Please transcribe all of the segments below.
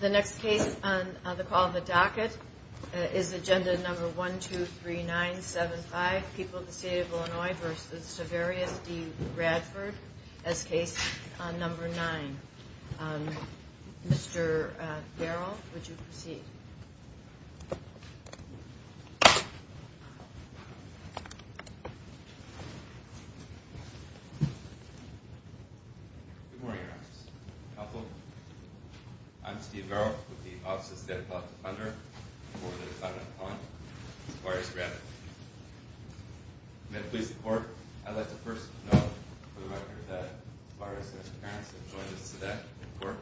The next case on the call of the docket is agenda number one, two, three, nine, seven, five. People of the State of Illinois v. Severius v. Radford as case number nine. Mr. Darrell, would you proceed? Good morning, Your Honor. I'm Steve Darrell with the Office of State Appellate Defender for the defendant on Severius v. Radford. May it please the Court, I'd like to first note for the record that Mr. Severius and his parents have joined us today in court.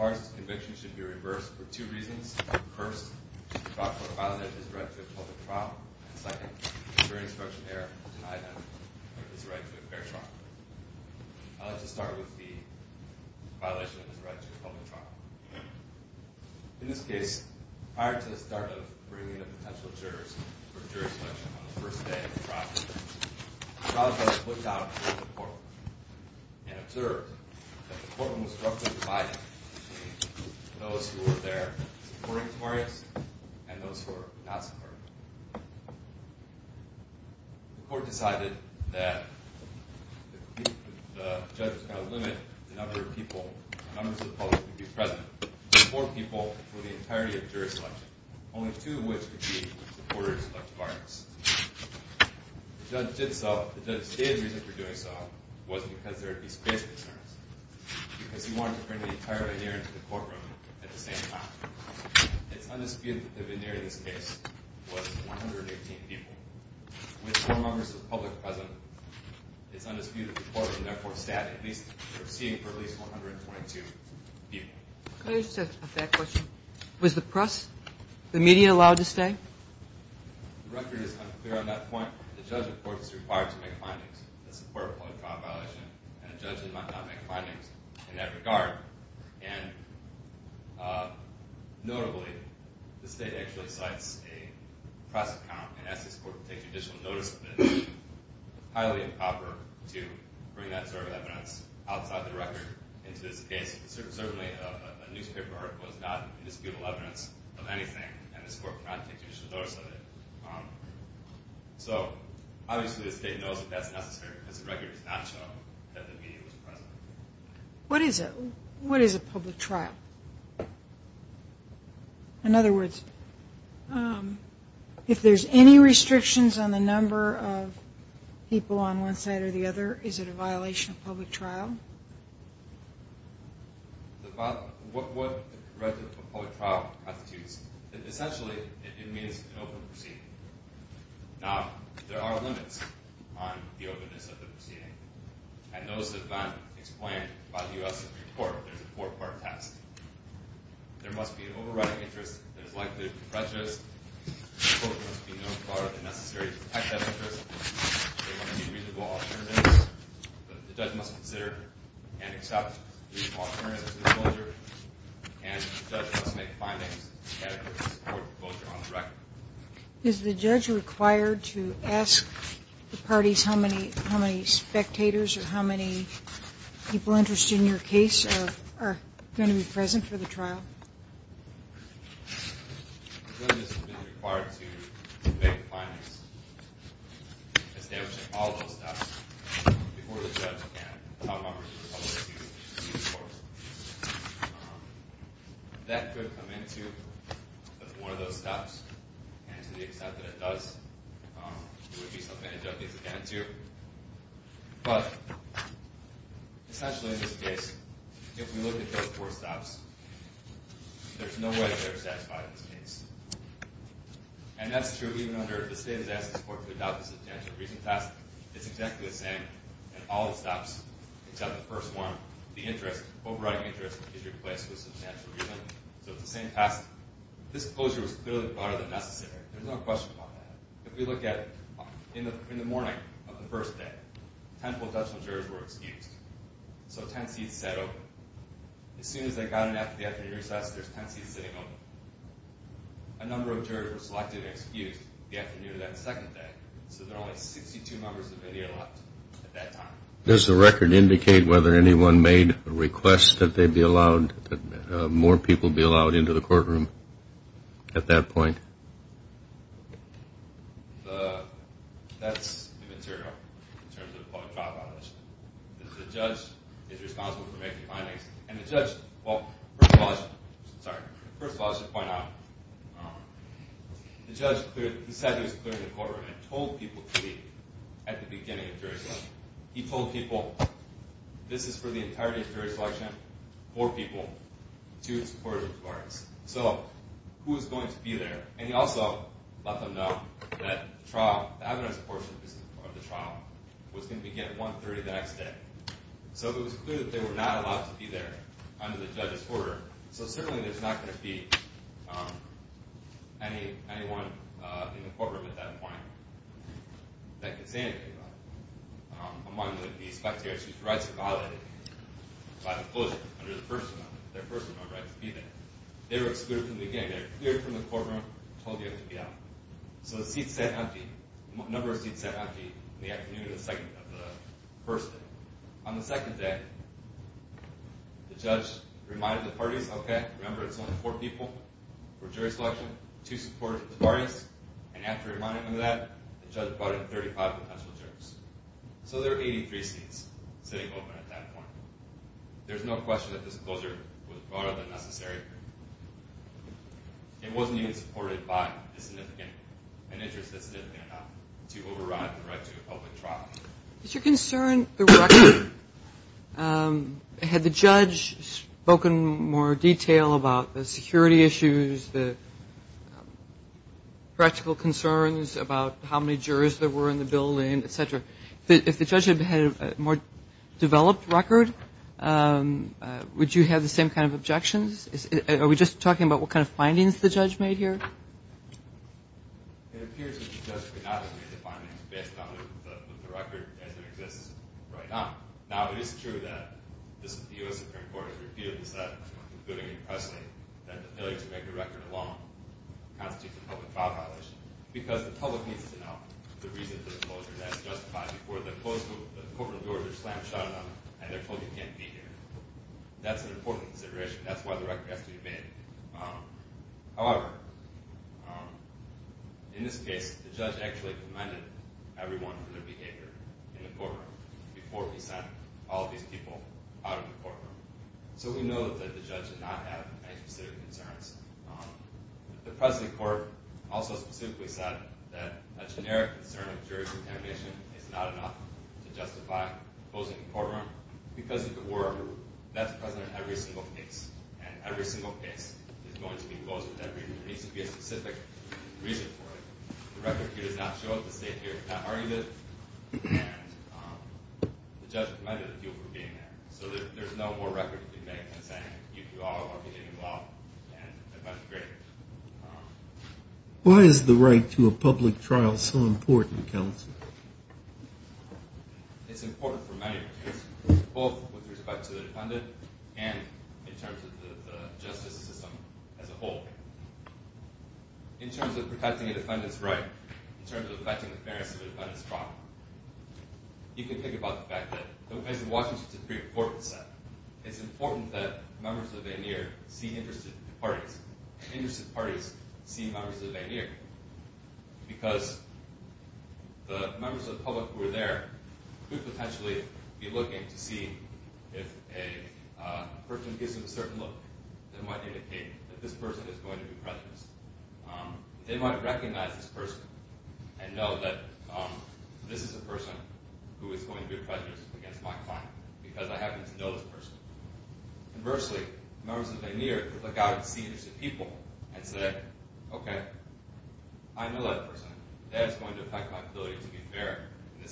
Mr. Severius's conviction should be reversed for two reasons. First, he was found to have violated his right to a public trial, and second, the jury instruction there denied him his right to a fair trial. I'd like to start with the violation of his right to a public trial. In this case, prior to the start of bringing in a potential juror for jury selection on the first day of the trial, the trial judge looked down at the court room and observed that the court room was roughly divided between those who were there supporting Severius and those who were not supporting him. The court decided that the judge was going to limit the number of people, the numbers of folks who would be present to four people for the entirety of jury selection, only two of which would be supporters of Severius. The judge did so, the judge stated the reason for doing so was because there would be space concerns, because he wanted to bring the entire veneer into the court room at the same time. It's undisputed that the veneer in this case was 118 people. With four members of the public present, it's undisputed that the court would therefore stand at least for seeing for at least 122 people. Was the press, the media allowed to stay? The record is unclear on that point. The judge, of course, is required to make findings in support of a public trial violation, and a judge might not make findings in that regard. And notably, the state actually cites a press account and asks this court to take judicial notice of it. It's highly improper to bring that sort of evidence outside the record into this case. Certainly a newspaper article is not indisputable evidence of anything, and this court cannot take judicial notice of it. So, obviously the state knows that that's necessary because the record does not show that the media was present. What is a public trial? In other words, if there's any restrictions on the number of people on one side or the other, is it a violation of public trial? Essentially, it means an open proceeding. Now, there are limits on the openness of the proceeding, and those have been explained by the U.S. Supreme Court. There's a four-part test. Is the judge required to ask the parties how many spectators or how many people interested in your case are going to be present? Are they going to be present for the trial? A witness has been required to make findings establishing all of those steps before the judge and top members of the public can see the court. That could come into as one of those stops, and to the extent that it does, it would be something to jump into. But, essentially in this case, if we look at those four stops, there's no way they're satisfied in this case. And that's true even under if the state has asked the court to adopt a substantial reason test, it's exactly the same in all the stops except the first one. The interest, overriding interest, is replaced with substantial reason, so it's the same test. This closure was clearly broader than necessary. There's no question about that. If we look at in the morning of the first day, ten full Dutchman jurors were excused, so ten seats sat open. As soon as they got in after the afternoon recess, there's ten seats sitting open. A number of jurors were selected and excused the afternoon of that second day, so there are only 62 members of India left at that time. Does the record indicate whether anyone made a request that they be allowed, that more people be allowed into the courtroom at that point? That's the material, in terms of the trial condition. The judge is responsible for making the findings, and the judge, well, first of all, I should point out, the judge decided he was clearing the courtroom and told people to leave at the beginning of jury selection. He told people, this is for the entirety of jury selection, four people, two supportive parts. So who is going to be there? And he also let them know that the trial, the evidence portion of the trial, was going to begin at 1.30 the next day. So it was clear that they were not allowed to be there under the judge's order, so certainly there's not going to be anyone in the courtroom at that point that can say anything about it. Among the spectators whose rights were violated by the closure under the first amendment, their first amendment rights to be there, they were excluded from the game. They were cleared from the courtroom, told they had to be out. So the seats sat empty, a number of seats sat empty in the afternoon of the first day. On the second day, the judge reminded the parties, okay, remember it's only four people for jury selection, two supportive parties, and after reminding them of that, the judge brought in 35 potential jurors. So there were 83 seats sitting open at that point. There's no question that this closure was broader than necessary. It wasn't even supported by an interest that's significant enough to override the right to a public trial. Is your concern the record? Had the judge spoken in more detail about the security issues, the practical concerns about how many jurors there were in the building, et cetera, if the judge had had a more developed record, would you have the same kind of objections? Are we just talking about what kind of findings the judge made here? It appears that the judge could not have made the findings based on the record as it exists right now. Now, it is true that the U.S. Supreme Court has repeatedly said, including in Presley, that the failure to make the record alone constitutes a public trial violation because the public needs to know the reason for the closure. That's justified before the courtroom doors are slammed shut and they're told you can't be here. That's an important consideration. That's why the record has to be made. However, in this case, the judge actually reminded everyone of their behavior in the courtroom before he sent all of these people out of the courtroom. So we know that the judge did not have any specific concerns. The Presley court also specifically said that a generic concern of jury contamination is not enough to justify closing the courtroom. Because of the work, that's present in every single case. And every single case is going to be closed for that reason. There needs to be a specific reason for it. The record here does not show it. The state here has not argued it. And the judge reminded people of being there. So there's no more record to be made than saying you all are behaving well. And that's great. Why is the right to a public trial so important, counsel? It's important for many reasons, both with respect to the defendant and in terms of the justice system as a whole. In terms of protecting a defendant's right, in terms of affecting the fairness of the defendant's trial, you can think about the fact that the Washington Supreme Court said it's important that members of the veneer see interested parties. Interested parties see members of the veneer. Because the members of the public who are there could potentially be looking to see if a person gives them a certain look that might indicate that this person is going to be prejudiced. They might recognize this person and know that this is a person who is going to be prejudiced against my client because I happen to know this person. Conversely, members of the veneer could look out and see interested people and say, okay, I know that person. That's going to affect my ability to be fair.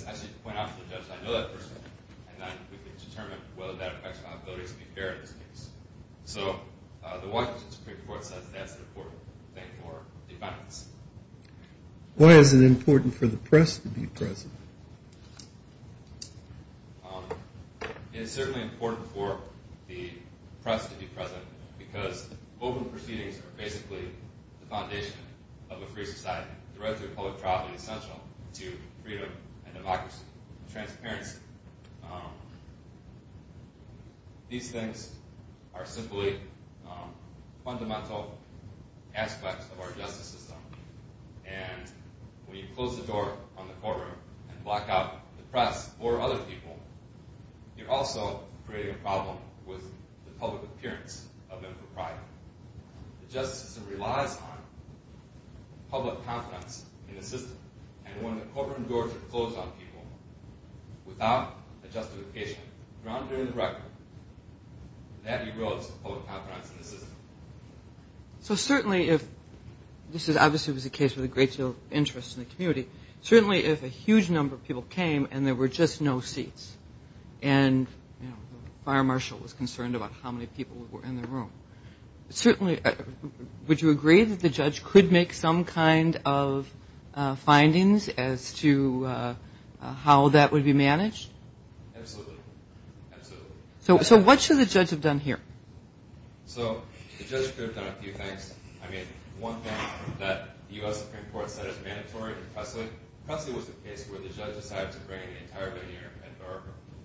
I should point out to the judge, I know that person. And then we can determine whether that affects my ability to be fair in this case. So the Washington Supreme Court says that's an important thing for defendants. Why is it important for the press to be present? It is certainly important for the press to be present because open proceedings are basically the foundation of a free society. The right to public trial is essential to freedom and democracy and transparency. These things are simply fundamental aspects of our justice system. And when you close the door on the courtroom and block out the press or other people, you're also creating a problem with the public appearance of them for pride. The justice system relies on public confidence in the system. And when the courtroom doors are closed on people without a justification, grounded in the record, that derails public confidence in the system. So certainly if this is obviously a case with a great deal of interest in the community, certainly if a huge number of people came and there were just no seats and the fire marshal was concerned about how many people were in the room, certainly would you agree that the judge could make some kind of findings as to how that would be managed? Absolutely. So what should the judge have done here? So the judge could have done a few things. I mean, one thing that the U.S. Supreme Court said is mandatory in Presley. Presley was a case where the judge decided to bring an entire veneer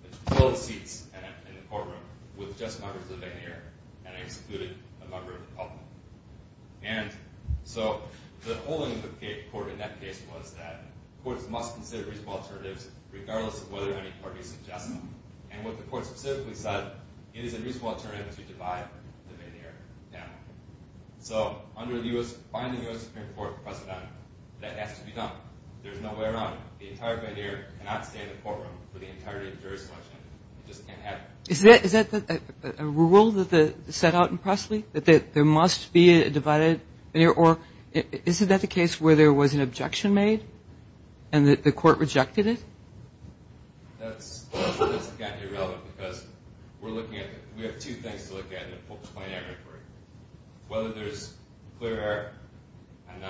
and fill the seats in the courtroom with just members of the veneer. And I excluded a member of the public. And so the whole of the court in that case was that courts must consider reasonable alternatives regardless of whether any parties suggest them. And what the court specifically said, it is a reasonable alternative to divide the veneer down. So under the final U.S. Supreme Court precedent, that has to be done. There's no way around it. The entire veneer cannot stay in the courtroom for the entirety of jury selection. It just can't happen. Is that a rule that's set out in Presley, that there must be a divided veneer? Or is that the case where there was an objection made and the court rejected it? That's irrelevant because we're looking at it. We have two things to look at in the folks' plenary inquiry, whether there's clear error and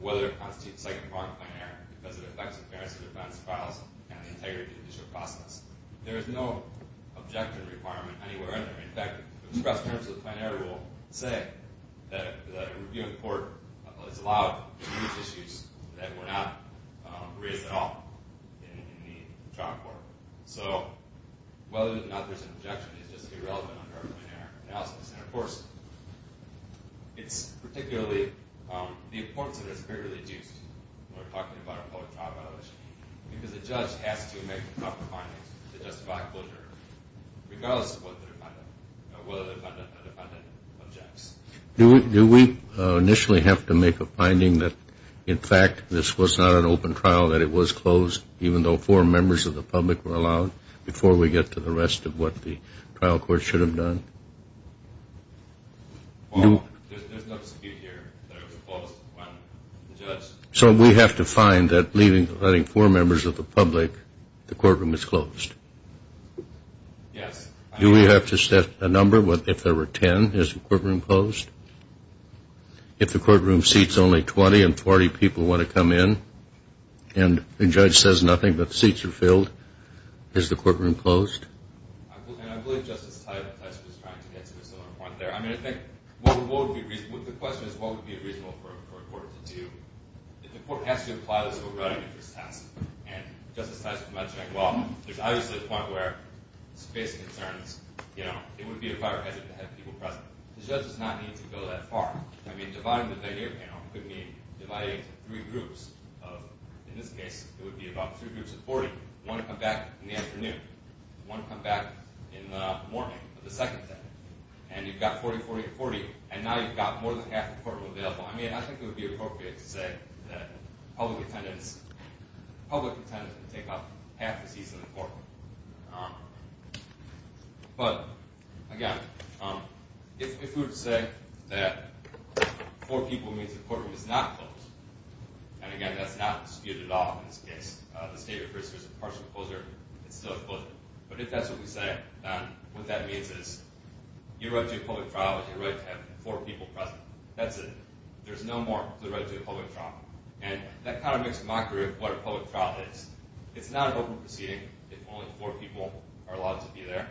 whether it constitutes second-party plenary error because it affects the parents' defense files and the integrity of the judicial process. There is no objection requirement anywhere in there. In fact, the express terms of the plenary rule say that a reviewing court is allowed to use issues that were not raised at all in the trial court. So whether or not there's an objection is just irrelevant under our plenary analysis. And, of course, it's particularly the importance of it is greatly reduced when we're talking about a public trial violation because the judge has to make the proper findings to justify closure, regardless of whether the defendant objects. Do we initially have to make a finding that, in fact, this was not an open trial, that it was closed even though four members of the public were allowed, before we get to the rest of what the trial court should have done? There's no dispute here that it was closed when the judge So we have to find that leaving four members of the public, the courtroom is closed? Yes. Do we have to set a number if there were 10? Is the courtroom closed? If the courtroom seats only 20 and 40 people want to come in and the judge says nothing but the seats are filled, is the courtroom closed? I believe Justice Tyler's question was trying to get to a similar point there. The question is, what would be reasonable for a court to do? If the court has to apply this overriding interest test, and Justice Tyler's mentioning, well, there's obviously a point where space concerns, it would be a prior hazard to have people present. The judge does not need to go that far. I mean, dividing the video panel could mean dividing it into three groups. In this case, it would be about three groups of 40. One would come back in the afternoon. One would come back in the morning of the second day. And you've got 40, 40, 40. And now you've got more than half the courtroom available. I mean, I think it would be appropriate to say that public attendance would take up half the seats in the courtroom. But, again, if we were to say that four people means the courtroom is not closed, and, again, that's not disputed at all in this case. The State of Christchurch is a partial closure. It's still a closure. But if that's what we say, then what that means is your right to a public trial is your right to have four people present. That's it. There's no more to the right to a public trial. And that kind of makes a mockery of what a public trial is. It's not an open proceeding if only four people are allowed to be there.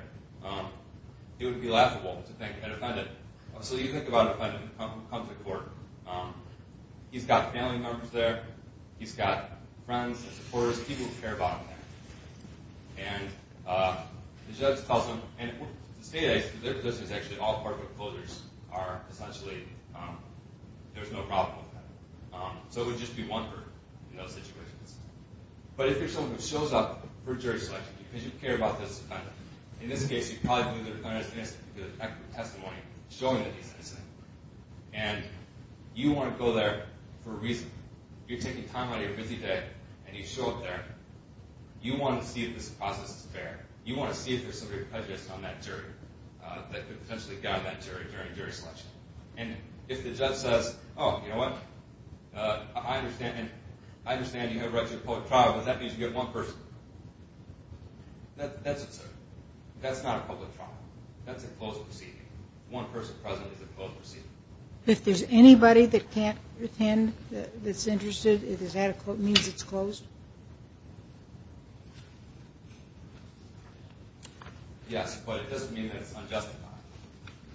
It would be laughable to think that a defendant, so you think about a defendant who comes to court, he's got family members there, he's got friends and supporters, people who care about him there. And the judge tells him, and the State of Christchurch is actually all part of the closures, are essentially, there's no problem with that. So it would just be one group in those situations. But if you're someone who shows up for jury selection, because you care about this defendant, in this case, you probably believe that a defendant is missing because of expert testimony showing that he's missing. And you want to go there for a reason. You're taking time out of your busy day, and you show up there. You want to see if this process is fair. You want to see if there's some prejudice on that jury that could potentially guide that jury during jury selection. And if the judge says, oh, you know what, I understand you have a right to a public trial, but that means you have one person. That's it, sir. That's not a public trial. That's a closed proceeding. One person present is a closed proceeding. If there's anybody that can't attend, that's interested, does that mean it's closed? Yes, but it doesn't mean that it's unjustified.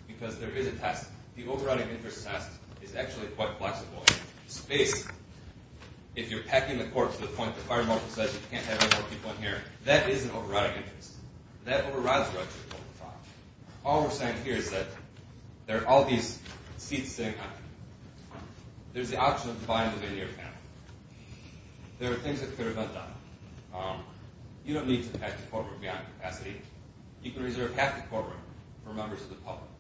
Because there is a test. The overriding interest test is actually quite flexible. It's based, if you're packing the court to the point that fire marshal says you can't have any more people in here, that is an overriding interest. That overrides the right to a public trial. All we're saying here is that there are all these seats sitting up. There's the option of dividing the veneer panel. There are things that could have been done. You don't need to pack the courtroom beyond capacity. You can reserve half the courtroom for members of the public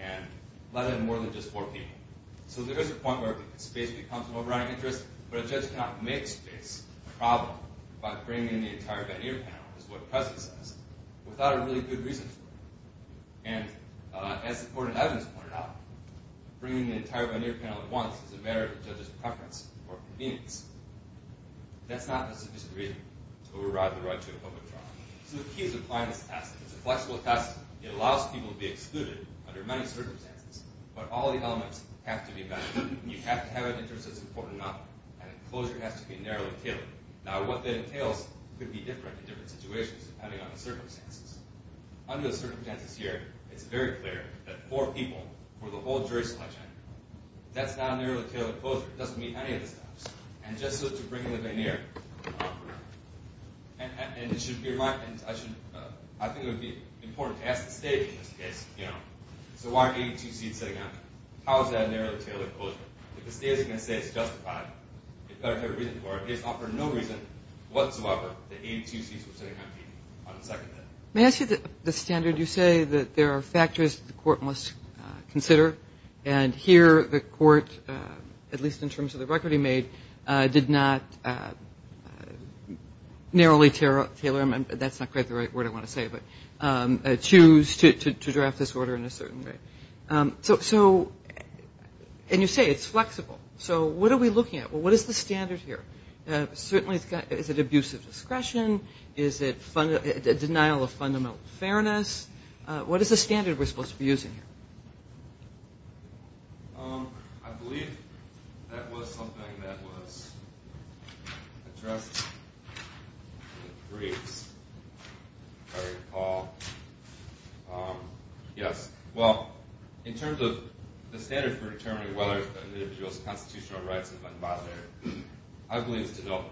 and let in more than just four people. So there is a point where space becomes an overriding interest, but a judge cannot make space a problem by bringing in the entire veneer panel, which is what the president says, without a really good reason for it. And as the court of evidence pointed out, bringing the entire veneer panel at once is a matter of the judge's preference or convenience. That's not a sufficient reason to override the right to a public trial. So the key is applying this test. It's a flexible test. It allows people to be excluded under many circumstances, but all the elements have to be met. You have to have an interest that's important enough, and the closure has to be narrowly tailored. Now, what that entails could be different in different situations, depending on the circumstances. Under the circumstances here, it's very clear that four people for the whole jury selection, that's not a narrowly tailored closure. It doesn't meet any of the steps. And just so to bring in the veneer, and I think it would be important to ask the state in this case, so why are 82 seats sitting out? How is that a narrowly tailored closure? If the state isn't going to say it's justified, it's got to have a reason for it. It's offered no reason whatsoever that 82 seats would sit empty on the second day. May I ask you the standard? You say that there are factors the court must consider, and here the court, at least in terms of the record he made, did not narrowly tailor them. That's not quite the right word I want to say, but choose to draft this order in a certain way. So, and you say it's flexible. So what are we looking at? Well, what is the standard here? Certainly is it abuse of discretion? Is it denial of fundamental fairness? What is the standard we're supposed to be using here? I believe that was something that was addressed in the briefs. Sorry, Paul. Yes. Well, in terms of the standard for determining whether an individual's constitutional rights have been violated, I believe it's a no.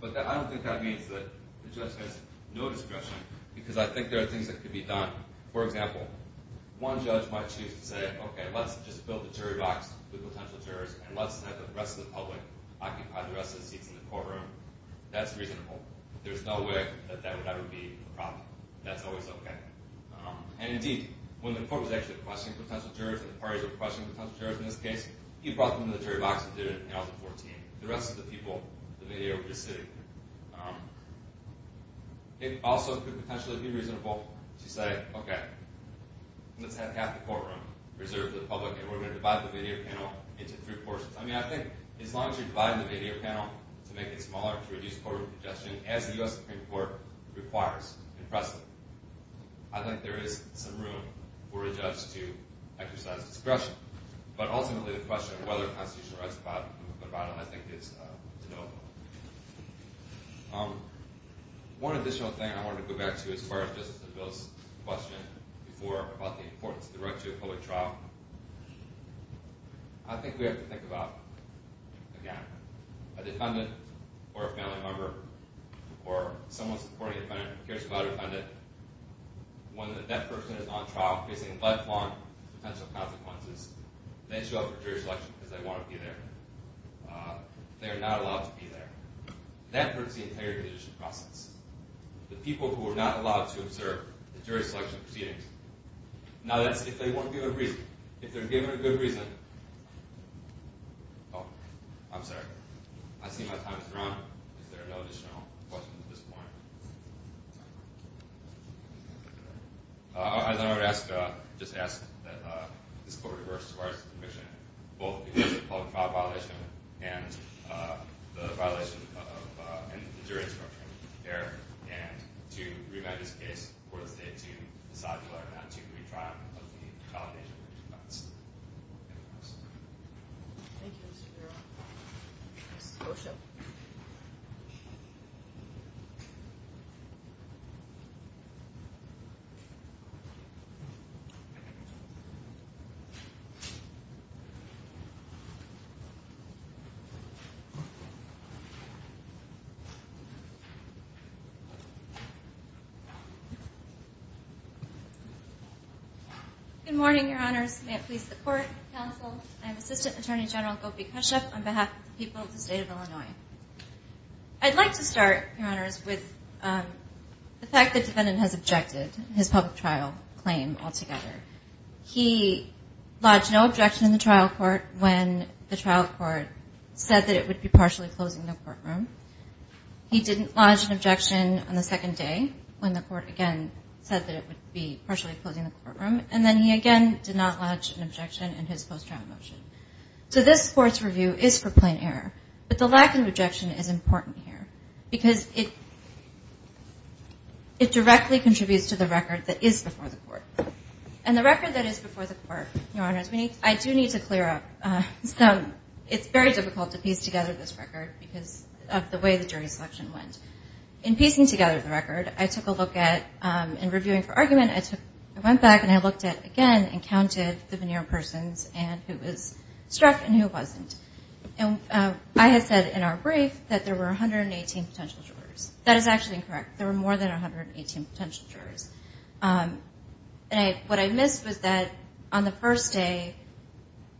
But I don't think that means that the judge has no discretion, because I think there are things that could be done. For example, one judge might choose to say, okay, let's just build a jury box with potential jurors, and let's have the rest of the public occupy the rest of the seats in the courtroom. That's reasonable. There's no way that that would ever be a problem. That's always okay. And indeed, when the court was actually requesting potential jurors, and the parties were requesting potential jurors in this case, he brought them to the jury box and did it, and that was a 14. The rest of the people, the media were just sitting there. It also could potentially be reasonable to say, okay, let's have half the courtroom reserved for the public, and we're going to divide the media panel into three portions. I mean, I think as long as you're dividing the media panel to make it smaller, as the U.S. Supreme Court requires in Preston, I think there is some room for a judge to exercise discretion. But ultimately, the question of whether constitutional rights are a problem, I think, is to no avail. One additional thing I wanted to go back to, as far as Justice DeVille's question before about the importance of the right to a public trial, I think we have to think about, again, if a defendant or a family member or someone supporting a defendant cares about a defendant, when that person is on trial facing lifelong potential consequences, they show up for jury selection because they want to be there. They are not allowed to be there. That hurts the entire judicial process. The people who are not allowed to observe the jury selection proceedings, now that's if they weren't given a reason. Oh, I'm sorry. I see my time has run out. Is there no additional questions at this point? I just wanted to ask that this court reverse as far as the conviction, both the public trial violation and the violation of jury instruction there, and to review this case for the state to decide whether or not to retrial as a result of the combination of these facts. Thank you. Thank you, Mr. Bureau. Mr. Gorsuch. Good morning, Your Honors. May it please the Court, Counsel, and Assistant Attorney General Gopi Kashyap on behalf of the people of the state of Illinois. I'd like to start, Your Honors, with the fact that the defendant has objected to his public trial claim altogether. He lodged no objection in the trial court when the trial court said that it would be partially closing the courtroom. He didn't lodge an objection on the second day when the court, again, said that it would be partially closing the courtroom. And then he, again, did not lodge an objection in his post-trial motion. So this Court's review is for plain error, but the lack of objection is important here because it directly contributes to the record that is before the Court. And the record that is before the Court, Your Honors, I do need to clear up. It's very difficult to piece together this record because of the way the jury selection went. In piecing together the record, I took a look at, in reviewing for argument, I went back and I looked at, again, and counted the veneer persons and who was struck and who wasn't. And I had said in our brief that there were 118 potential jurors. That is actually incorrect. There were more than 118 potential jurors. What I missed was that on the first day,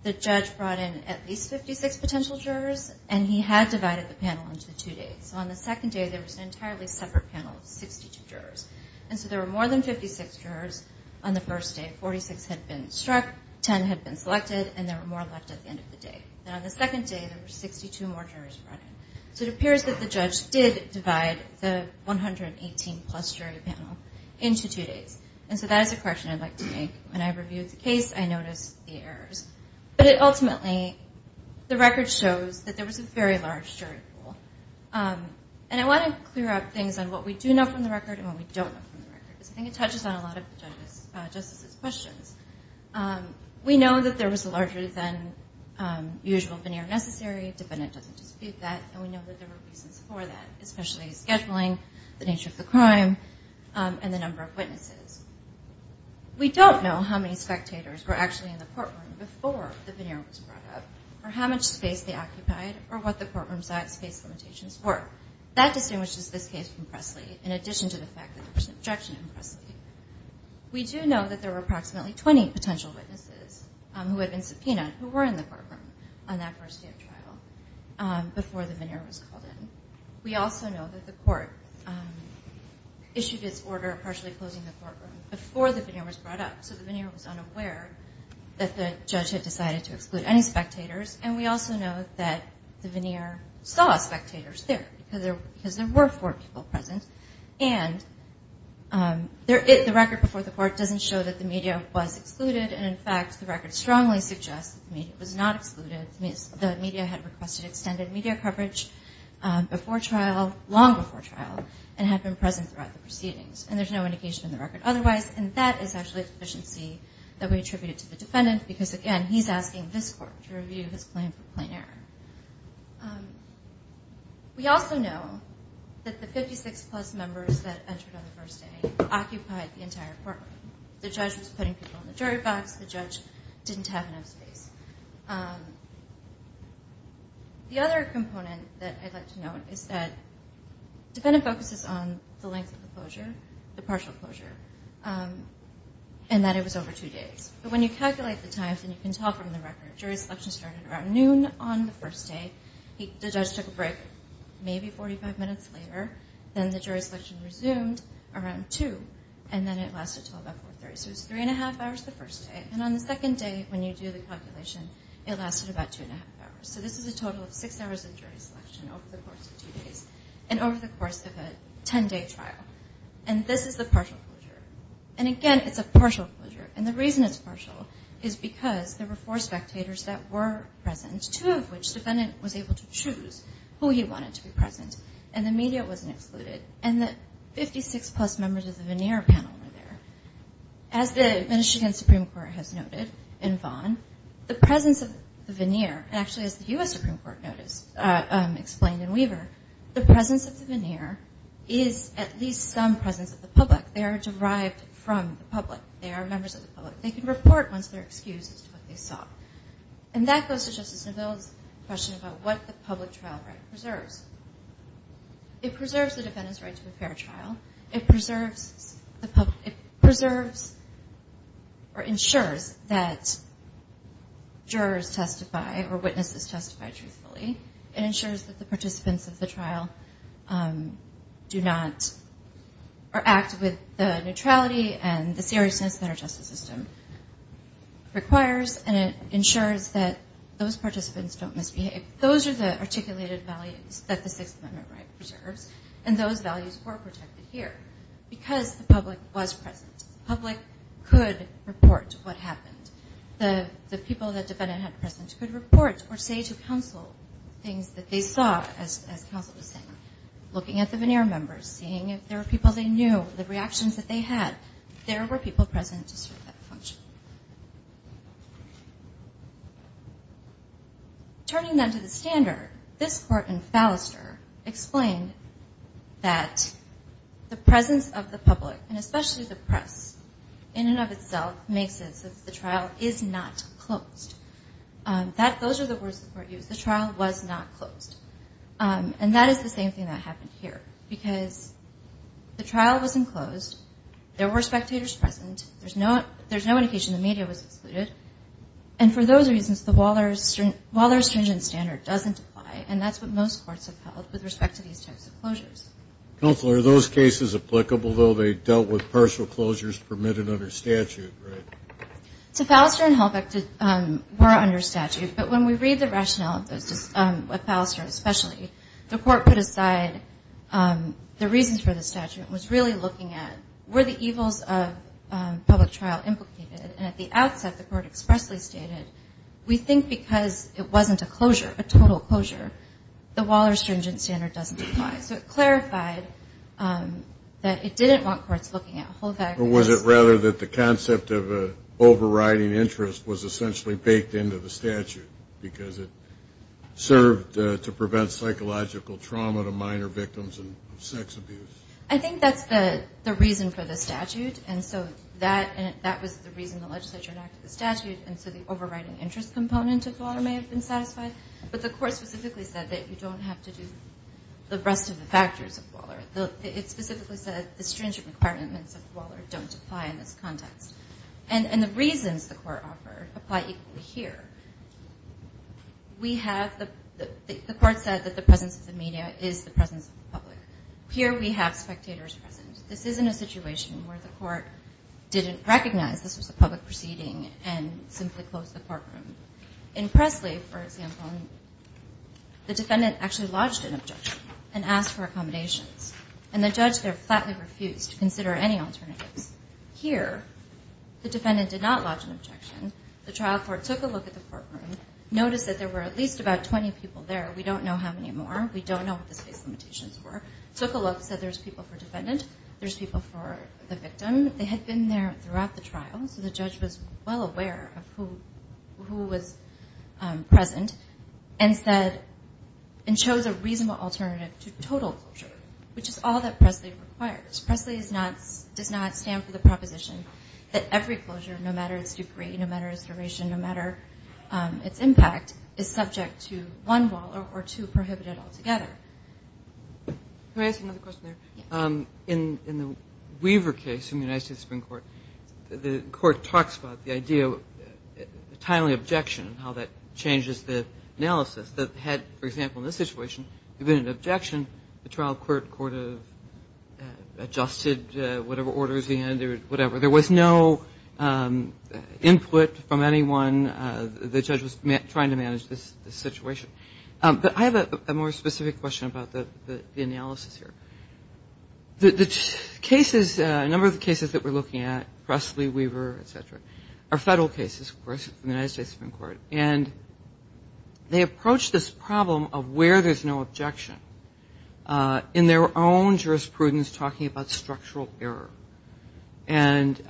the judge brought in at least 56 potential jurors, and he had divided the panel into two days. So on the second day, there was an entirely separate panel of 62 jurors. And so there were more than 56 jurors on the first day. Forty-six had been struck, ten had been selected, and there were more left at the end of the day. And on the second day, there were 62 more jurors brought in. So it appears that the judge did divide the 118-plus jury panel into two days. And so that is a correction I'd like to make. When I reviewed the case, I noticed the errors. But ultimately, the record shows that there was a very large jury pool. And I want to clear up things on what we do know from the record and what we don't know from the record, because I think it touches on a lot of the judges' questions. We know that there was a larger than usual veneer necessary. A defendant doesn't dispute that, and we know that there were reasons for that, especially scheduling, the nature of the crime, and the number of witnesses. We don't know how many spectators were actually in the courtroom before the veneer was brought up or how much space they occupied or what the courtroom space limitations were. That distinguishes this case from Presley in addition to the fact that there was an objection in Presley. We do know that there were approximately 20 potential witnesses who had been subpoenaed who were in the courtroom on that first day of trial before the veneer was called in. We also know that the court issued its order partially closing the courtroom before the veneer was brought up, so the veneer was unaware that the judge had decided to exclude any spectators. And we also know that the veneer saw spectators there because there were four people present. And the record before the court doesn't show that the media was excluded, and, in fact, the record strongly suggests that the media was not excluded. The media had requested extended media coverage before trial, long before trial, and had been present throughout the proceedings. And there's no indication in the record otherwise, and that is actually a deficiency that we attributed to the defendant because, again, he's asking this court to review his claim for plain error. We also know that the 56-plus members that entered on the first day occupied the entire courtroom. The judge was putting people in the jury box. The judge didn't have enough space. The other component that I'd like to note is that the defendant focuses on the length of the closure, the partial closure, and that it was over two days. But when you calculate the times, and you can tell from the record, jury selection started around noon on the first day. The judge took a break maybe 45 minutes later. Then the jury selection resumed around 2, and then it lasted until about 4.30. So it was 3-1⁄2 hours the first day. And on the second day, when you do the calculation, it lasted about 2-1⁄2 hours. So this is a total of six hours of jury selection over the course of two days and over the course of a 10-day trial. And this is the partial closure. And, again, it's a partial closure. And the reason it's partial is because there were four spectators that were present, two of which the defendant was able to choose who he wanted to be present. And the media wasn't excluded. And the 56-plus members of the veneer panel were there. As the Michigan Supreme Court has noted in Vaughn, the presence of the veneer, and actually as the U.S. Supreme Court explained in Weaver, the presence of the veneer is at least some presence of the public. They are derived from the public. They are members of the public. They can report once they're excused as to what they saw. And that goes to Justice Neville's question about what the public trial right preserves. It preserves the defendant's right to a fair trial. It preserves or ensures that jurors testify or witnesses testify truthfully. It ensures that the participants of the trial do not or act with the neutrality and the seriousness that our justice system requires. And it ensures that those participants don't misbehave. Those are the articulated values that the Sixth Amendment right preserves. And those values were protected here because the public was present. The public could report what happened. The people that the defendant had present could report or say to counsel things that they saw as counsel was saying, looking at the veneer members, seeing if there were people they knew, the reactions that they had, there were people present to serve that function. Turning then to the standard, this court in Fallister explained that the presence of the public, and especially the press, in and of itself, makes it so that the trial is not closed. Those are the words the court used. The trial was not closed. And that is the same thing that happened here because the trial was enclosed. There were spectators present. There's no indication the media was excluded. And for those reasons, the Waller-Stringent standard doesn't apply, and that's what most courts have held with respect to these types of closures. Counsel, are those cases applicable, though they dealt with partial closures permitted under statute, right? So Fallister and Halbeck were under statute, but when we read the rationale of those, of Fallister especially, the court put aside the reasons for the statute and was really looking at were the evils of public trial implicated. And at the outset, the court expressly stated, we think because it wasn't a closure, a total closure, the Waller-Stringent standard doesn't apply. So it clarified that it didn't want courts looking at Halbeck. Or was it rather that the concept of overriding interest was essentially baked into the statute because it served to prevent psychological trauma to minor victims of sex abuse? I think that's the reason for the statute. And so that was the reason the legislature enacted the statute, and so the overriding interest component of Waller may have been satisfied. But the court specifically said that you don't have to do the rest of the factors of Waller. It specifically said the stringent requirements of Waller don't apply in this context. And the reasons the court offered apply equally here. We have the court said that the presence of the media is the presence of the public. Here we have spectators present. This isn't a situation where the court didn't recognize this was a public proceeding and simply closed the courtroom. In Presley, for example, the defendant actually lodged an objection and asked for accommodations, and the judge there flatly refused to consider any alternatives. Here the defendant did not lodge an objection. The trial court took a look at the courtroom, noticed that there were at least about 20 people there. We don't know how many more. We don't know what the space limitations were. Took a look, said there's people for defendant, there's people for the victim. They had been there throughout the trial, so the judge was well aware of who was present and chose a reasonable alternative to total closure, which is all that Presley requires. Presley does not stand for the proposition that every closure, no matter its degree, no matter its duration, no matter its impact, is subject to one Waller or two prohibited altogether. Can I ask another question there? Yes. In the Weaver case in the United States Supreme Court, the court talks about the idea of a timely objection and how that changes the analysis that had, for example, in this situation, if it had been an objection, the trial court could have adjusted whatever orders he had or whatever. There was no input from anyone. The judge was trying to manage this situation. But I have a more specific question about the analysis here. The cases, a number of the cases that we're looking at, Presley, Weaver, et cetera, are federal cases, of course, from the United States Supreme Court. And they approach this problem of where there's no objection in their own jurisprudence talking about structural error. And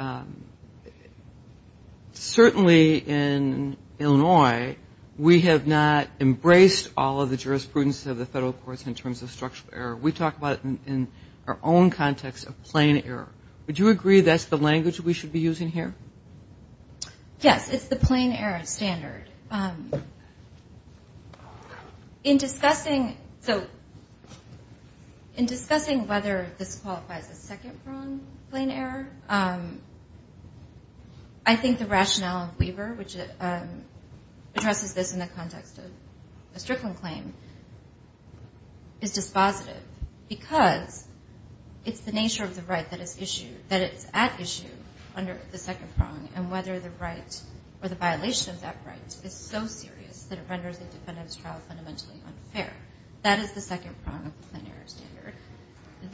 certainly in Illinois, we have not embraced all of the jurisprudence of the federal courts in terms of structural error. We talk about it in our own context of plain error. Would you agree that's the language we should be using here? Yes, it's the plain error standard. In discussing whether this qualifies as second-pronged plain error, I think the rationale of Weaver, which addresses this in the context of a Strickland claim, is dispositive because it's the nature of the right that is issued, that it's at issue under the second prong, and whether the right or the violation of that right is so serious that it renders the defendant's trial fundamentally unfair. That is the second prong of the plain error standard.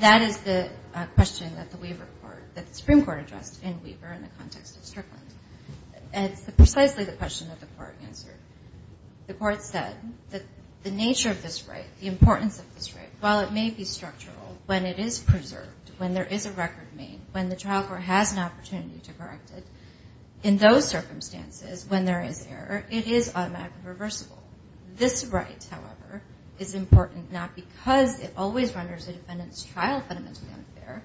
That is the question that the Supreme Court addressed in Weaver in the context of Strickland. And it's precisely the question that the Court answered. The Court said that the nature of this right, the importance of this right, while it may be structural, when it is preserved, when there is a record made, when the trial court has an opportunity to correct it, in those circumstances, when there is error, it is automatically reversible. This right, however, is important not because it always renders the defendant's trial fundamentally unfair,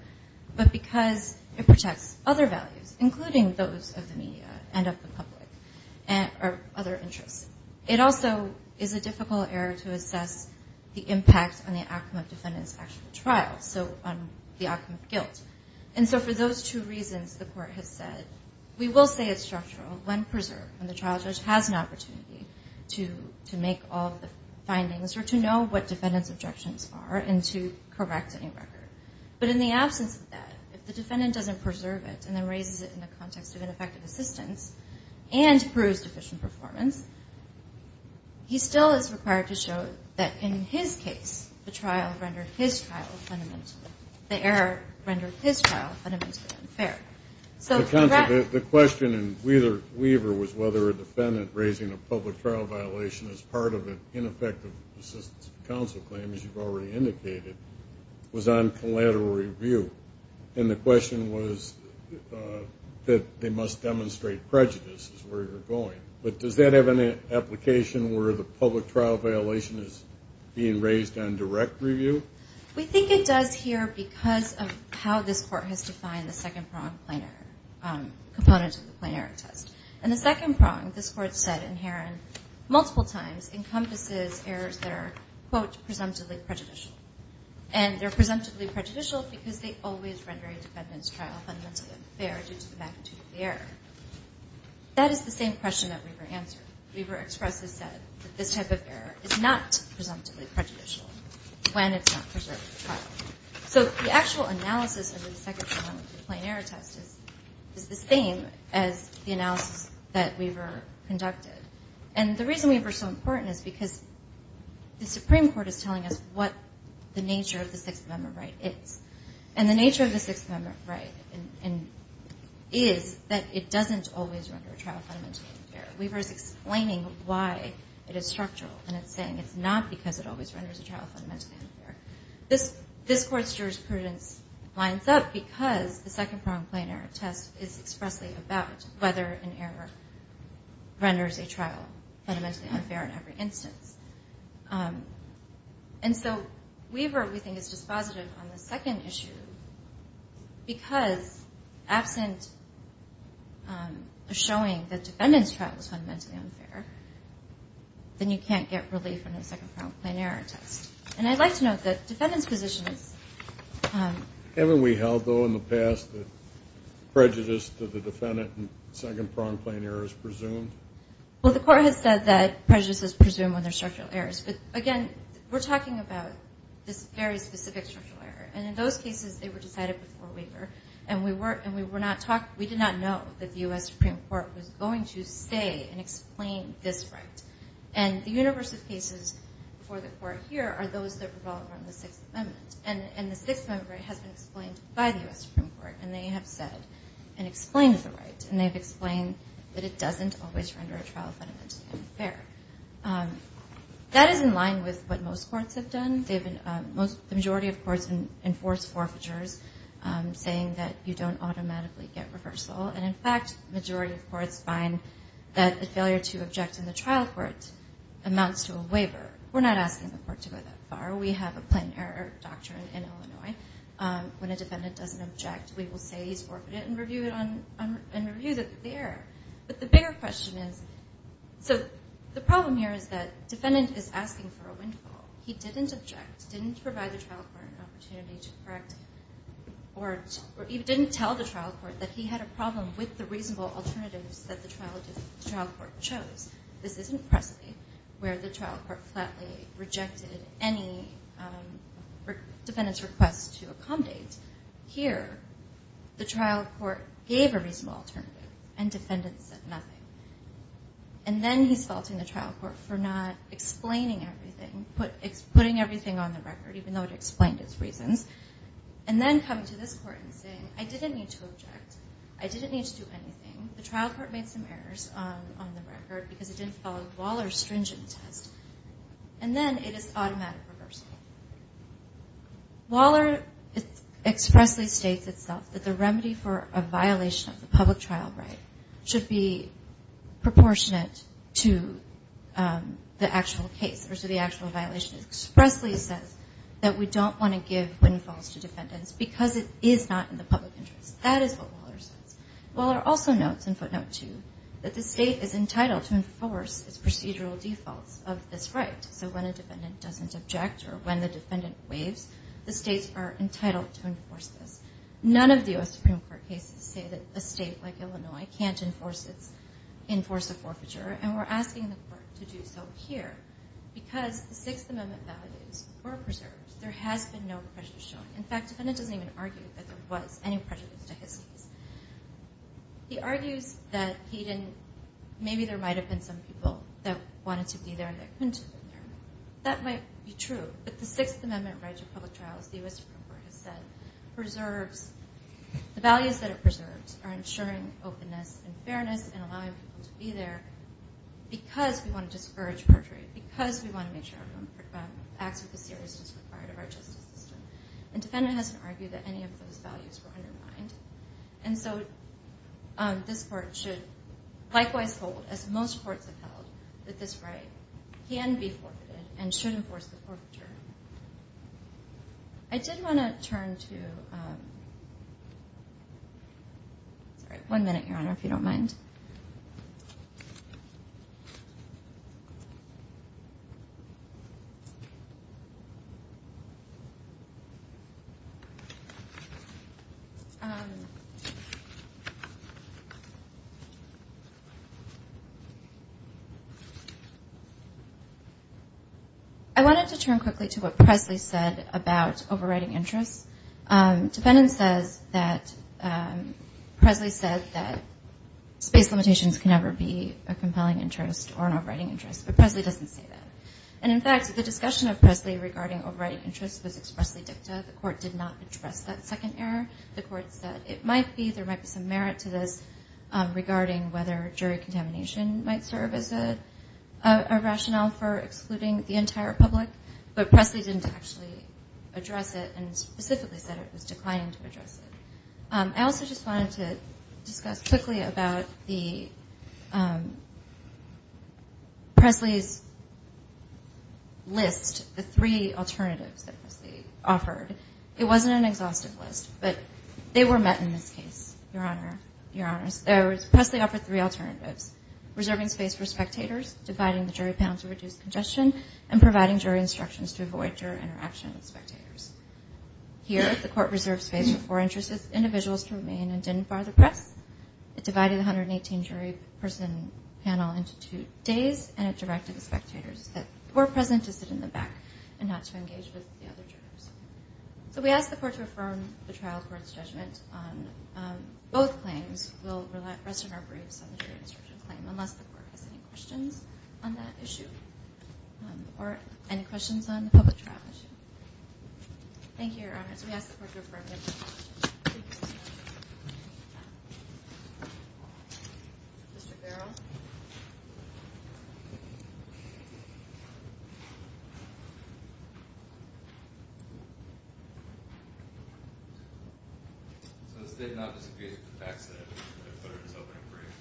but because it protects other values, including those of the media and of the public or other interests. It also is a difficult error to assess the impact on the outcome of defendant's actual trial, so on the outcome of guilt. And so for those two reasons, the Court has said, we will say it's structural when preserved, when the trial judge has an opportunity to make all of the findings or to know what defendant's objections are and to correct any record. But in the absence of that, if the defendant doesn't preserve it and then raises it in the context of ineffective assistance and proves deficient performance, he still is required to show that in his case, the trial rendered his trial fundamentally unfair. The question in Weaver was whether a defendant raising a public trial violation as part of an ineffective assistance counsel claim, as you've already indicated, was on collateral review. And the question was that they must demonstrate prejudice is where you're going. But does that have an application where the public trial violation is being raised on direct review? We think it does here because of how this Court has defined the second prong plain error component to the plain error test. And the second prong, this Court said in Heron multiple times, encompasses errors that are, quote, presumptively prejudicial. And they're presumptively prejudicial because they always render a defendant's trial fundamentally unfair due to the magnitude of the error. That is the same question that Weaver answered. Weaver expressly said that this type of error is not presumptively prejudicial when it's not preserved for trial. So the actual analysis of the second prong of the plain error test is the same as the analysis that Weaver conducted. And the reason Weaver is so important is because the Supreme Court is telling us what the nature of the Sixth Amendment right is. And the nature of the Sixth Amendment right is that it doesn't always render a trial fundamentally unfair. Weaver is explaining why it is structural, and it's saying it's not because it always renders a trial fundamentally unfair. This Court's jurisprudence lines up because the second prong plain error test is expressly about whether an error renders a trial fundamentally unfair in every instance. And so Weaver, we think, is dispositive on the second issue because, absent of showing that the defendant's trial was fundamentally unfair, then you can't get relief from the second prong plain error test. And I'd like to note that the defendant's position is... Haven't we held, though, in the past that prejudice to the defendant in second prong plain error is presumed? Well, the Court has said that prejudice is presumed when there are structural errors. But, again, we're talking about this very specific structural error. And in those cases, they were decided before Weaver. And we did not know that the U.S. Supreme Court was going to say and explain this right. And the universe of cases before the Court here are those that revolve around the Sixth Amendment. And the Sixth Amendment right has been explained by the U.S. Supreme Court. And they have said and explained the right. And they've explained that it doesn't always render a trial fundamentally unfair. That is in line with what most courts have done. The majority of courts enforce forfeitures, saying that you don't automatically get reversal. And, in fact, the majority of courts find that the failure to object in the trial court amounts to a waiver. We're not asking the court to go that far. We have a plain error doctrine in Illinois. When a defendant doesn't object, we will say he's forfeited and review the error. But the bigger question is, so the problem here is that defendant is asking for a windfall. He didn't object, didn't provide the trial court an opportunity to correct, or he didn't tell the trial court that he had a problem with the reasonable alternatives that the trial court chose. This isn't Presley, where the trial court flatly rejected any defendant's request to accommodate. Here, the trial court gave a reasonable alternative, and defendant said nothing. And then he's faulting the trial court for not explaining everything, putting everything on the record, even though it explained its reasons, and then coming to this court and saying, I didn't need to object. I didn't need to do anything. The trial court made some errors on the record because it didn't follow Waller's stringent test. And then it is automatic reversal. Waller expressly states itself that the remedy for a violation of the public trial right should be proportionate to the actual case, or so the actual violation expressly says that we don't want to give windfalls to defendants because it is not in the public interest. That is what Waller says. Waller also notes in footnote 2 that the state is entitled to enforce its procedural defaults of this right. So when a defendant doesn't object or when the defendant waives, the states are entitled to enforce this. None of the U.S. Supreme Court cases say that a state like Illinois can't enforce a forfeiture, and we're asking the court to do so here because the Sixth Amendment values were preserved. There has been no prejudice shown. In fact, the defendant doesn't even argue that there was any prejudice to his case. He argues that maybe there might have been some people that wanted to be there and that couldn't have been there. That might be true, but the Sixth Amendment right to public trial, as the U.S. Supreme Court has said, preserves the values that it preserves are ensuring openness and fairness and allowing people to be there because we want to discourage perjury, because we want to make sure everyone acts with the seriousness required of our justice system. And the defendant hasn't argued that any of those values were undermined. And so this court should likewise hold, as most courts have held, that this right can be forfeited and should enforce the forfeiture. I did want to turn to one minute, Your Honor, if you don't mind. I wanted to turn quickly to what Presley said about overriding interests. Defendant says that Presley said that space limitations can never be a compelling interest or an overriding interest, but Presley doesn't say that. And in fact, the discussion of Presley regarding overriding interests was expressly dicta. The court did not address that second error. The court said it might be, there might be some merit to this regarding whether jury contamination might serve as a rationale for excluding the entire public. But Presley didn't actually address it and specifically said it was declining to address it. I also just wanted to discuss quickly about the Presley's list, the three alternatives that Presley offered. It wasn't an exhaustive list, but they were met in this case, Your Honor. Presley offered three alternatives, reserving space for spectators, dividing the jury panel to reduce congestion, and providing jury instructions to avoid jury interaction with spectators. Here, the court reserved space for four individuals to remain and didn't fire the press. It divided the 118 jury person panel into two days and it directed the spectators that were present to sit in the back and not to engage with the other jurors. So we ask the court to affirm the trial court's judgment on both claims. We'll rest on our briefs on the jury instruction claim unless the court has any questions on that issue or any questions on the public trial issue. Thank you, Your Honor. So we ask the court to affirm the judgment. So the state does not disagree with the facts that I put in this opening brief?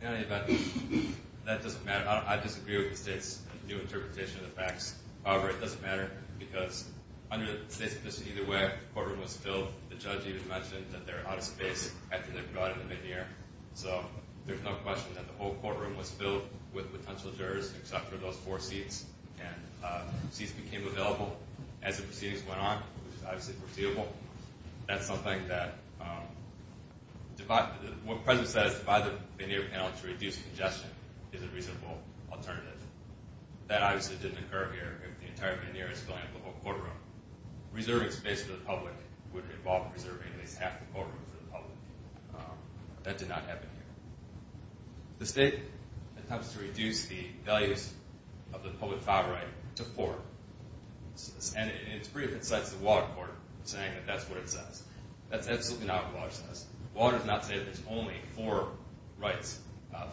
In any event, that doesn't matter. I disagree with the state's new interpretation of the facts. However, it doesn't matter because under the state's position, either way, the courtroom was filled. The judge even mentioned that there was a lot of space after they brought in the veneer. So there's no question that the whole courtroom was filled with potential jurors except for those four seats. Seats became available as the proceedings went on, which is obviously foreseeable. That's something that, what President said is divide the veneer panel to reduce congestion is a reasonable alternative. That obviously didn't occur here. If the entire veneer is filling up the whole courtroom, reserving space for the public would involve preserving at least half the courtroom for the public. That did not happen here. The state attempts to reduce the values of the public file right to four. And it's pretty offensive to the water court saying that that's what it says. That's absolutely not what Waller says. Waller does not say that there's only four rights,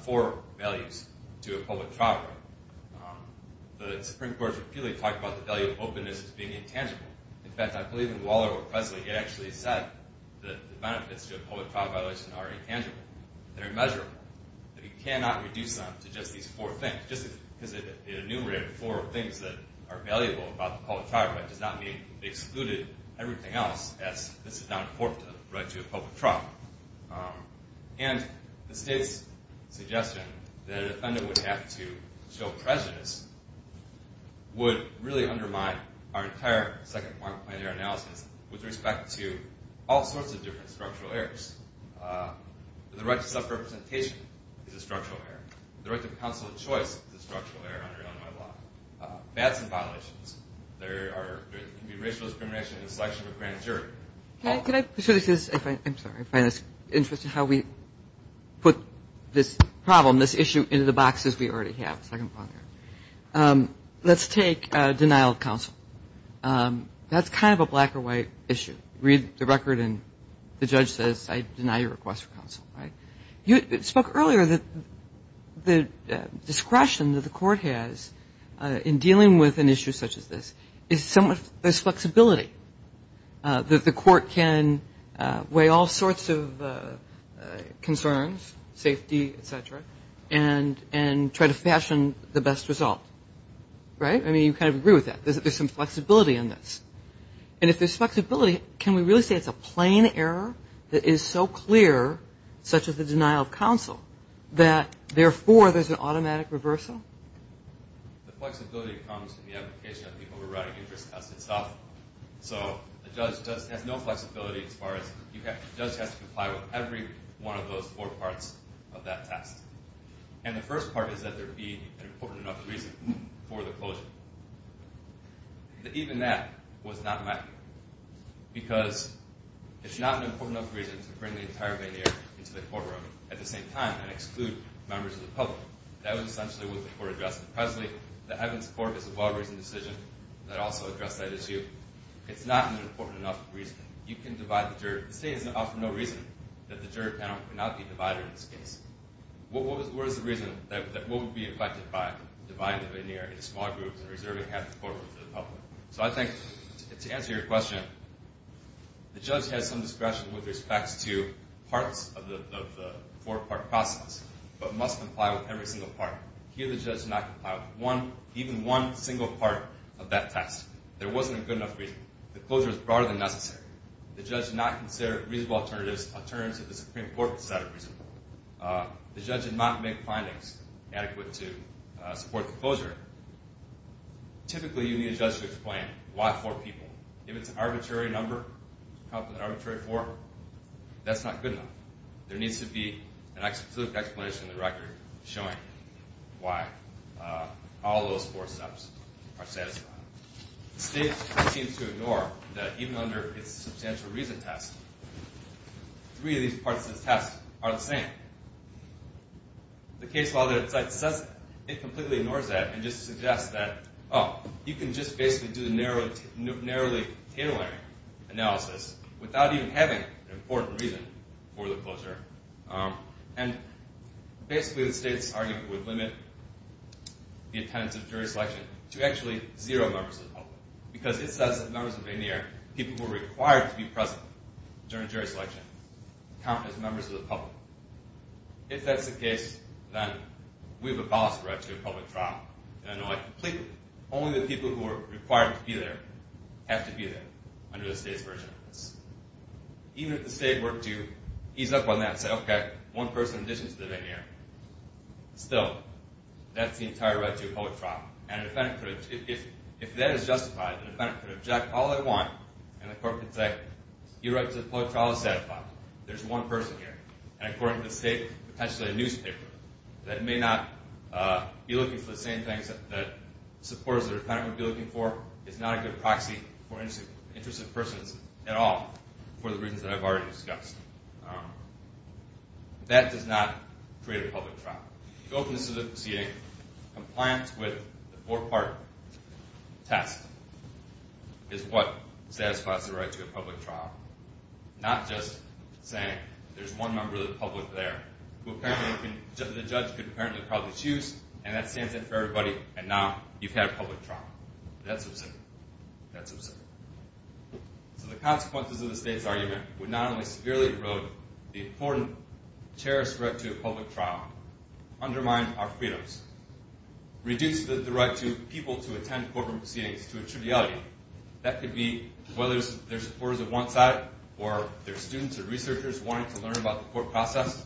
four values to a public trial right. The Supreme Court repeatedly talked about the value of openness as being intangible. In fact, I believe in Waller or Presley, it actually said that the benefits to a public trial violation are intangible. They're immeasurable. You cannot reduce them to just these four things. Just because it enumerated four things that are valuable about the public trial right does not mean they excluded everything else, as this is not a fourth right to a public trial. And the state's suggestion that a defendant would have to show presence would really undermine our entire second-point analysis with respect to all sorts of different structural errors. The right to self-representation is a structural error. The right to counsel of choice is a structural error under Illinois law. That's a violation. There can be racial discrimination in the selection of a grand jury. I'm sorry. I find this interesting how we put this problem, this issue, into the boxes we already have. Let's take denial of counsel. That's kind of a black or white issue. Read the record and the judge says, I deny your request for counsel. You spoke earlier that the discretion that the court has in dealing with an issue such as this is somewhat this flexibility, that the court can weigh all sorts of concerns, safety, et cetera, and try to fashion the best result. Right? I mean, you kind of agree with that. There's some flexibility in this. And if there's flexibility, can we really say it's a plain error that is so clear, such as the denial of counsel, that therefore there's an automatic reversal? The flexibility comes from the application of the overriding interest test itself. So the judge has no flexibility as far as the judge has to comply with every one of those four parts of that test. And the first part is that there be an important enough reason for the closure. Even that was not met because it's not an important enough reason to bring the entire veneer into the courtroom at the same time and exclude members of the public. That was essentially what the court addressed. Presently, the Evans Court is a well-reasoned decision that also addressed that issue. It's not an important enough reason. You can divide the jury. The state has offered no reason that the jury panel cannot be divided in this case. What is the reason that we would be affected by dividing the veneer into small groups and reserving half the courtroom to the public? So I think, to answer your question, the judge has some discretion with respect to parts of the four-part process, but must comply with every single part. Here, the judge did not comply with even one single part of that test. There wasn't a good enough reason. The closure is broader than necessary. The judge did not consider reasonable alternatives alternative to the Supreme Court's set of reasons. The judge did not make findings adequate to support the closure. Typically, you need a judge to explain why four people. If it's an arbitrary number, an arbitrary four, that's not good enough. There needs to be a specific explanation in the record showing why all those four steps are satisfied. The state seems to ignore that even under its substantial reason test, three of these parts of the test are the same. The case law that it cites says it completely ignores that and just suggests that, oh, you can just basically do the narrowly tabular analysis without even having an important reason for the closure. Basically, the state's argument would limit the attendance of jury selection to actually zero members of the public, because it says that members of Veneer, people who are required to be present during jury selection, count as members of the public. If that's the case, then we have a ballast for actually a public trial, and I know that completely. Only the people who are required to be there have to be there under the state's version of this. Even if the state were to ease up on that and say, okay, one person in addition to the Veneer, still, that's the entire right to a public trial. And if that is justified, the defendant could object all they want, and the court could say, your right to a public trial is satisfied. There's one person here. And according to the state, potentially a newspaper that may not be looking for the same things that supporters of the defendant would be looking for is not a good proxy for interested persons at all, for the reasons that I've already discussed. That does not create a public trial. The openness of the proceeding, compliance with the four-part test is what satisfies the right to a public trial. Not just saying, there's one member of the public there, who apparently the judge could probably choose, and that stands it for everybody, and now you've had a public trial. That's absurd. That's absurd. So the consequences of the state's argument would not only severely erode the important, cherished right to a public trial, undermine our freedoms, reduce the right to people to attend court proceedings to a triviality. That could be whether they're supporters of one side, or they're students or researchers wanting to learn about the court process.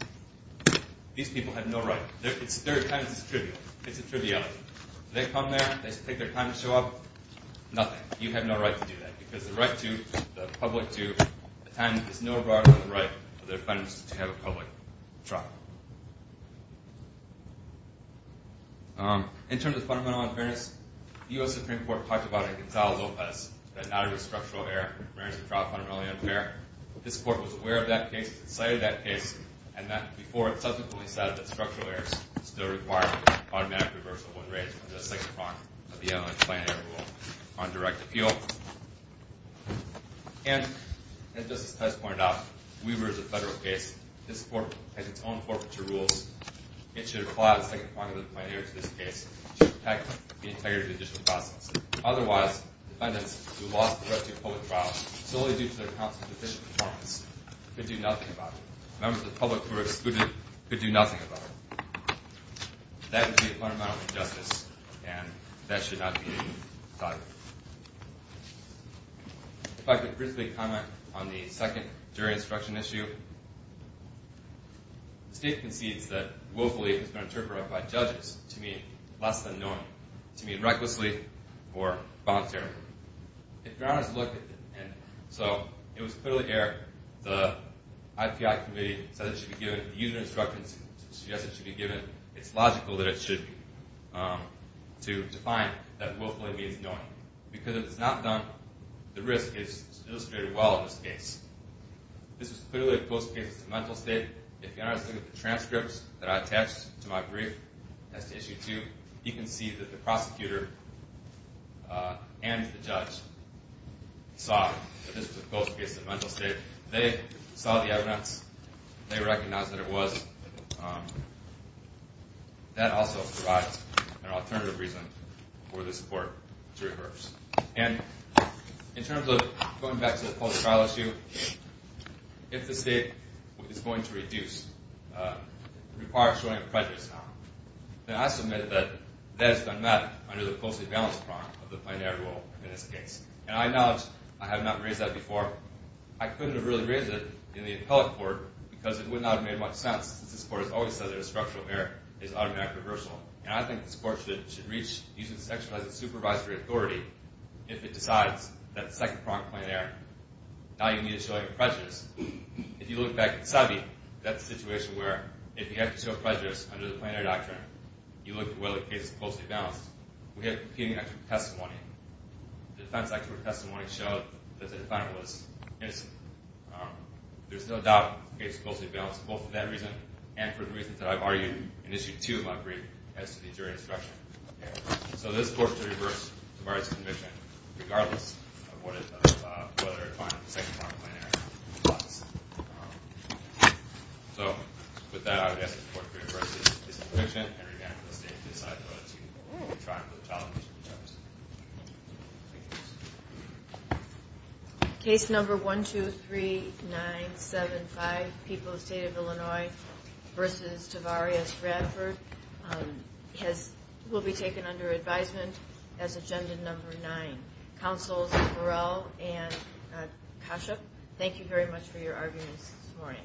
These people have no right. They're kind of just trivial. It's a triviality. They come there. They take their time to show up. Nothing. You have no right to do that, because the right to the public to attend is no broader than the right of the defendants to have a public trial. In terms of fundamental unfairness, the U.S. Supreme Court talked about it in Gonzalo Lopez, that not every structural error in a trial is fundamentally unfair. This court was aware of that case, cited that case, and that before it subsequently said that structural errors still require automatic reversal when raised under the second prong of the MLA's plain error rule on direct appeal. And, as Justice Tice pointed out, Weber is a federal case. This court has its own forfeiture rules. It should apply the second prong of the plain error to this case to protect the integrity of the judicial process. Otherwise, defendants who lost the right to a public trial solely due to their counsel's deficient performance could do nothing about it. Members of the public who were excluded could do nothing about it. That would be a fundamental injustice, and that should not be decided. If I could briefly comment on the second jury instruction issue. The state concedes that willfully has been interpreted by judges to mean less than normal, to mean recklessly or voluntarily. So, it was clearly there. The IPI committee said it should be given. The user instructions suggest it should be given. It's logical that it should be, to define that willfully means knowing. Because if it's not done, the risk is illustrated well in this case. This was clearly a close case. It's a mental state. If you look at the transcripts that I attached to my brief, that's issue two, you can see that the prosecutor and the judge saw that this was a close case. It's a mental state. They saw the evidence. They recognized that it was. That also provides an alternative reason for this court to rehearse. And in terms of going back to the public trial issue, if the state is going to reduce, require a showing of prejudice now, then I submit that that has been met under the closely balanced prong of the plein air rule in this case. And I acknowledge I have not raised that before. I couldn't have really raised it in the appellate court because it would not have made much sense, since this court has always said that a structural error is automatic reversal. And I think this court should reach using sexualized supervisory authority if it decides that second prong of plein air, now you need a showing of prejudice. If you look back at the subbie, that's a situation where if you have to show prejudice under the plein air doctrine, you look at whether the case is closely balanced. We have competing expert testimony. The defense expert testimony showed that the defendant was innocent. There's no doubt the case is closely balanced, both for that reason and for the reasons that I've argued in issue two of my brief as to the jury instruction. So this court should reverse Tavares' conviction, regardless of whether it finds the second prong of plein air. So with that, I would ask the court to reverse its conviction and revamp the state's decide whether to retry for the tolerance of the charges. Thank you. Case number 1, 2, 3, 9, 7, 5, People of the State of Illinois v. Tavares-Bradford will be taken under advisement as agenda number nine. Counsels Burrell and Kashuk, thank you very much for your arguments this morning.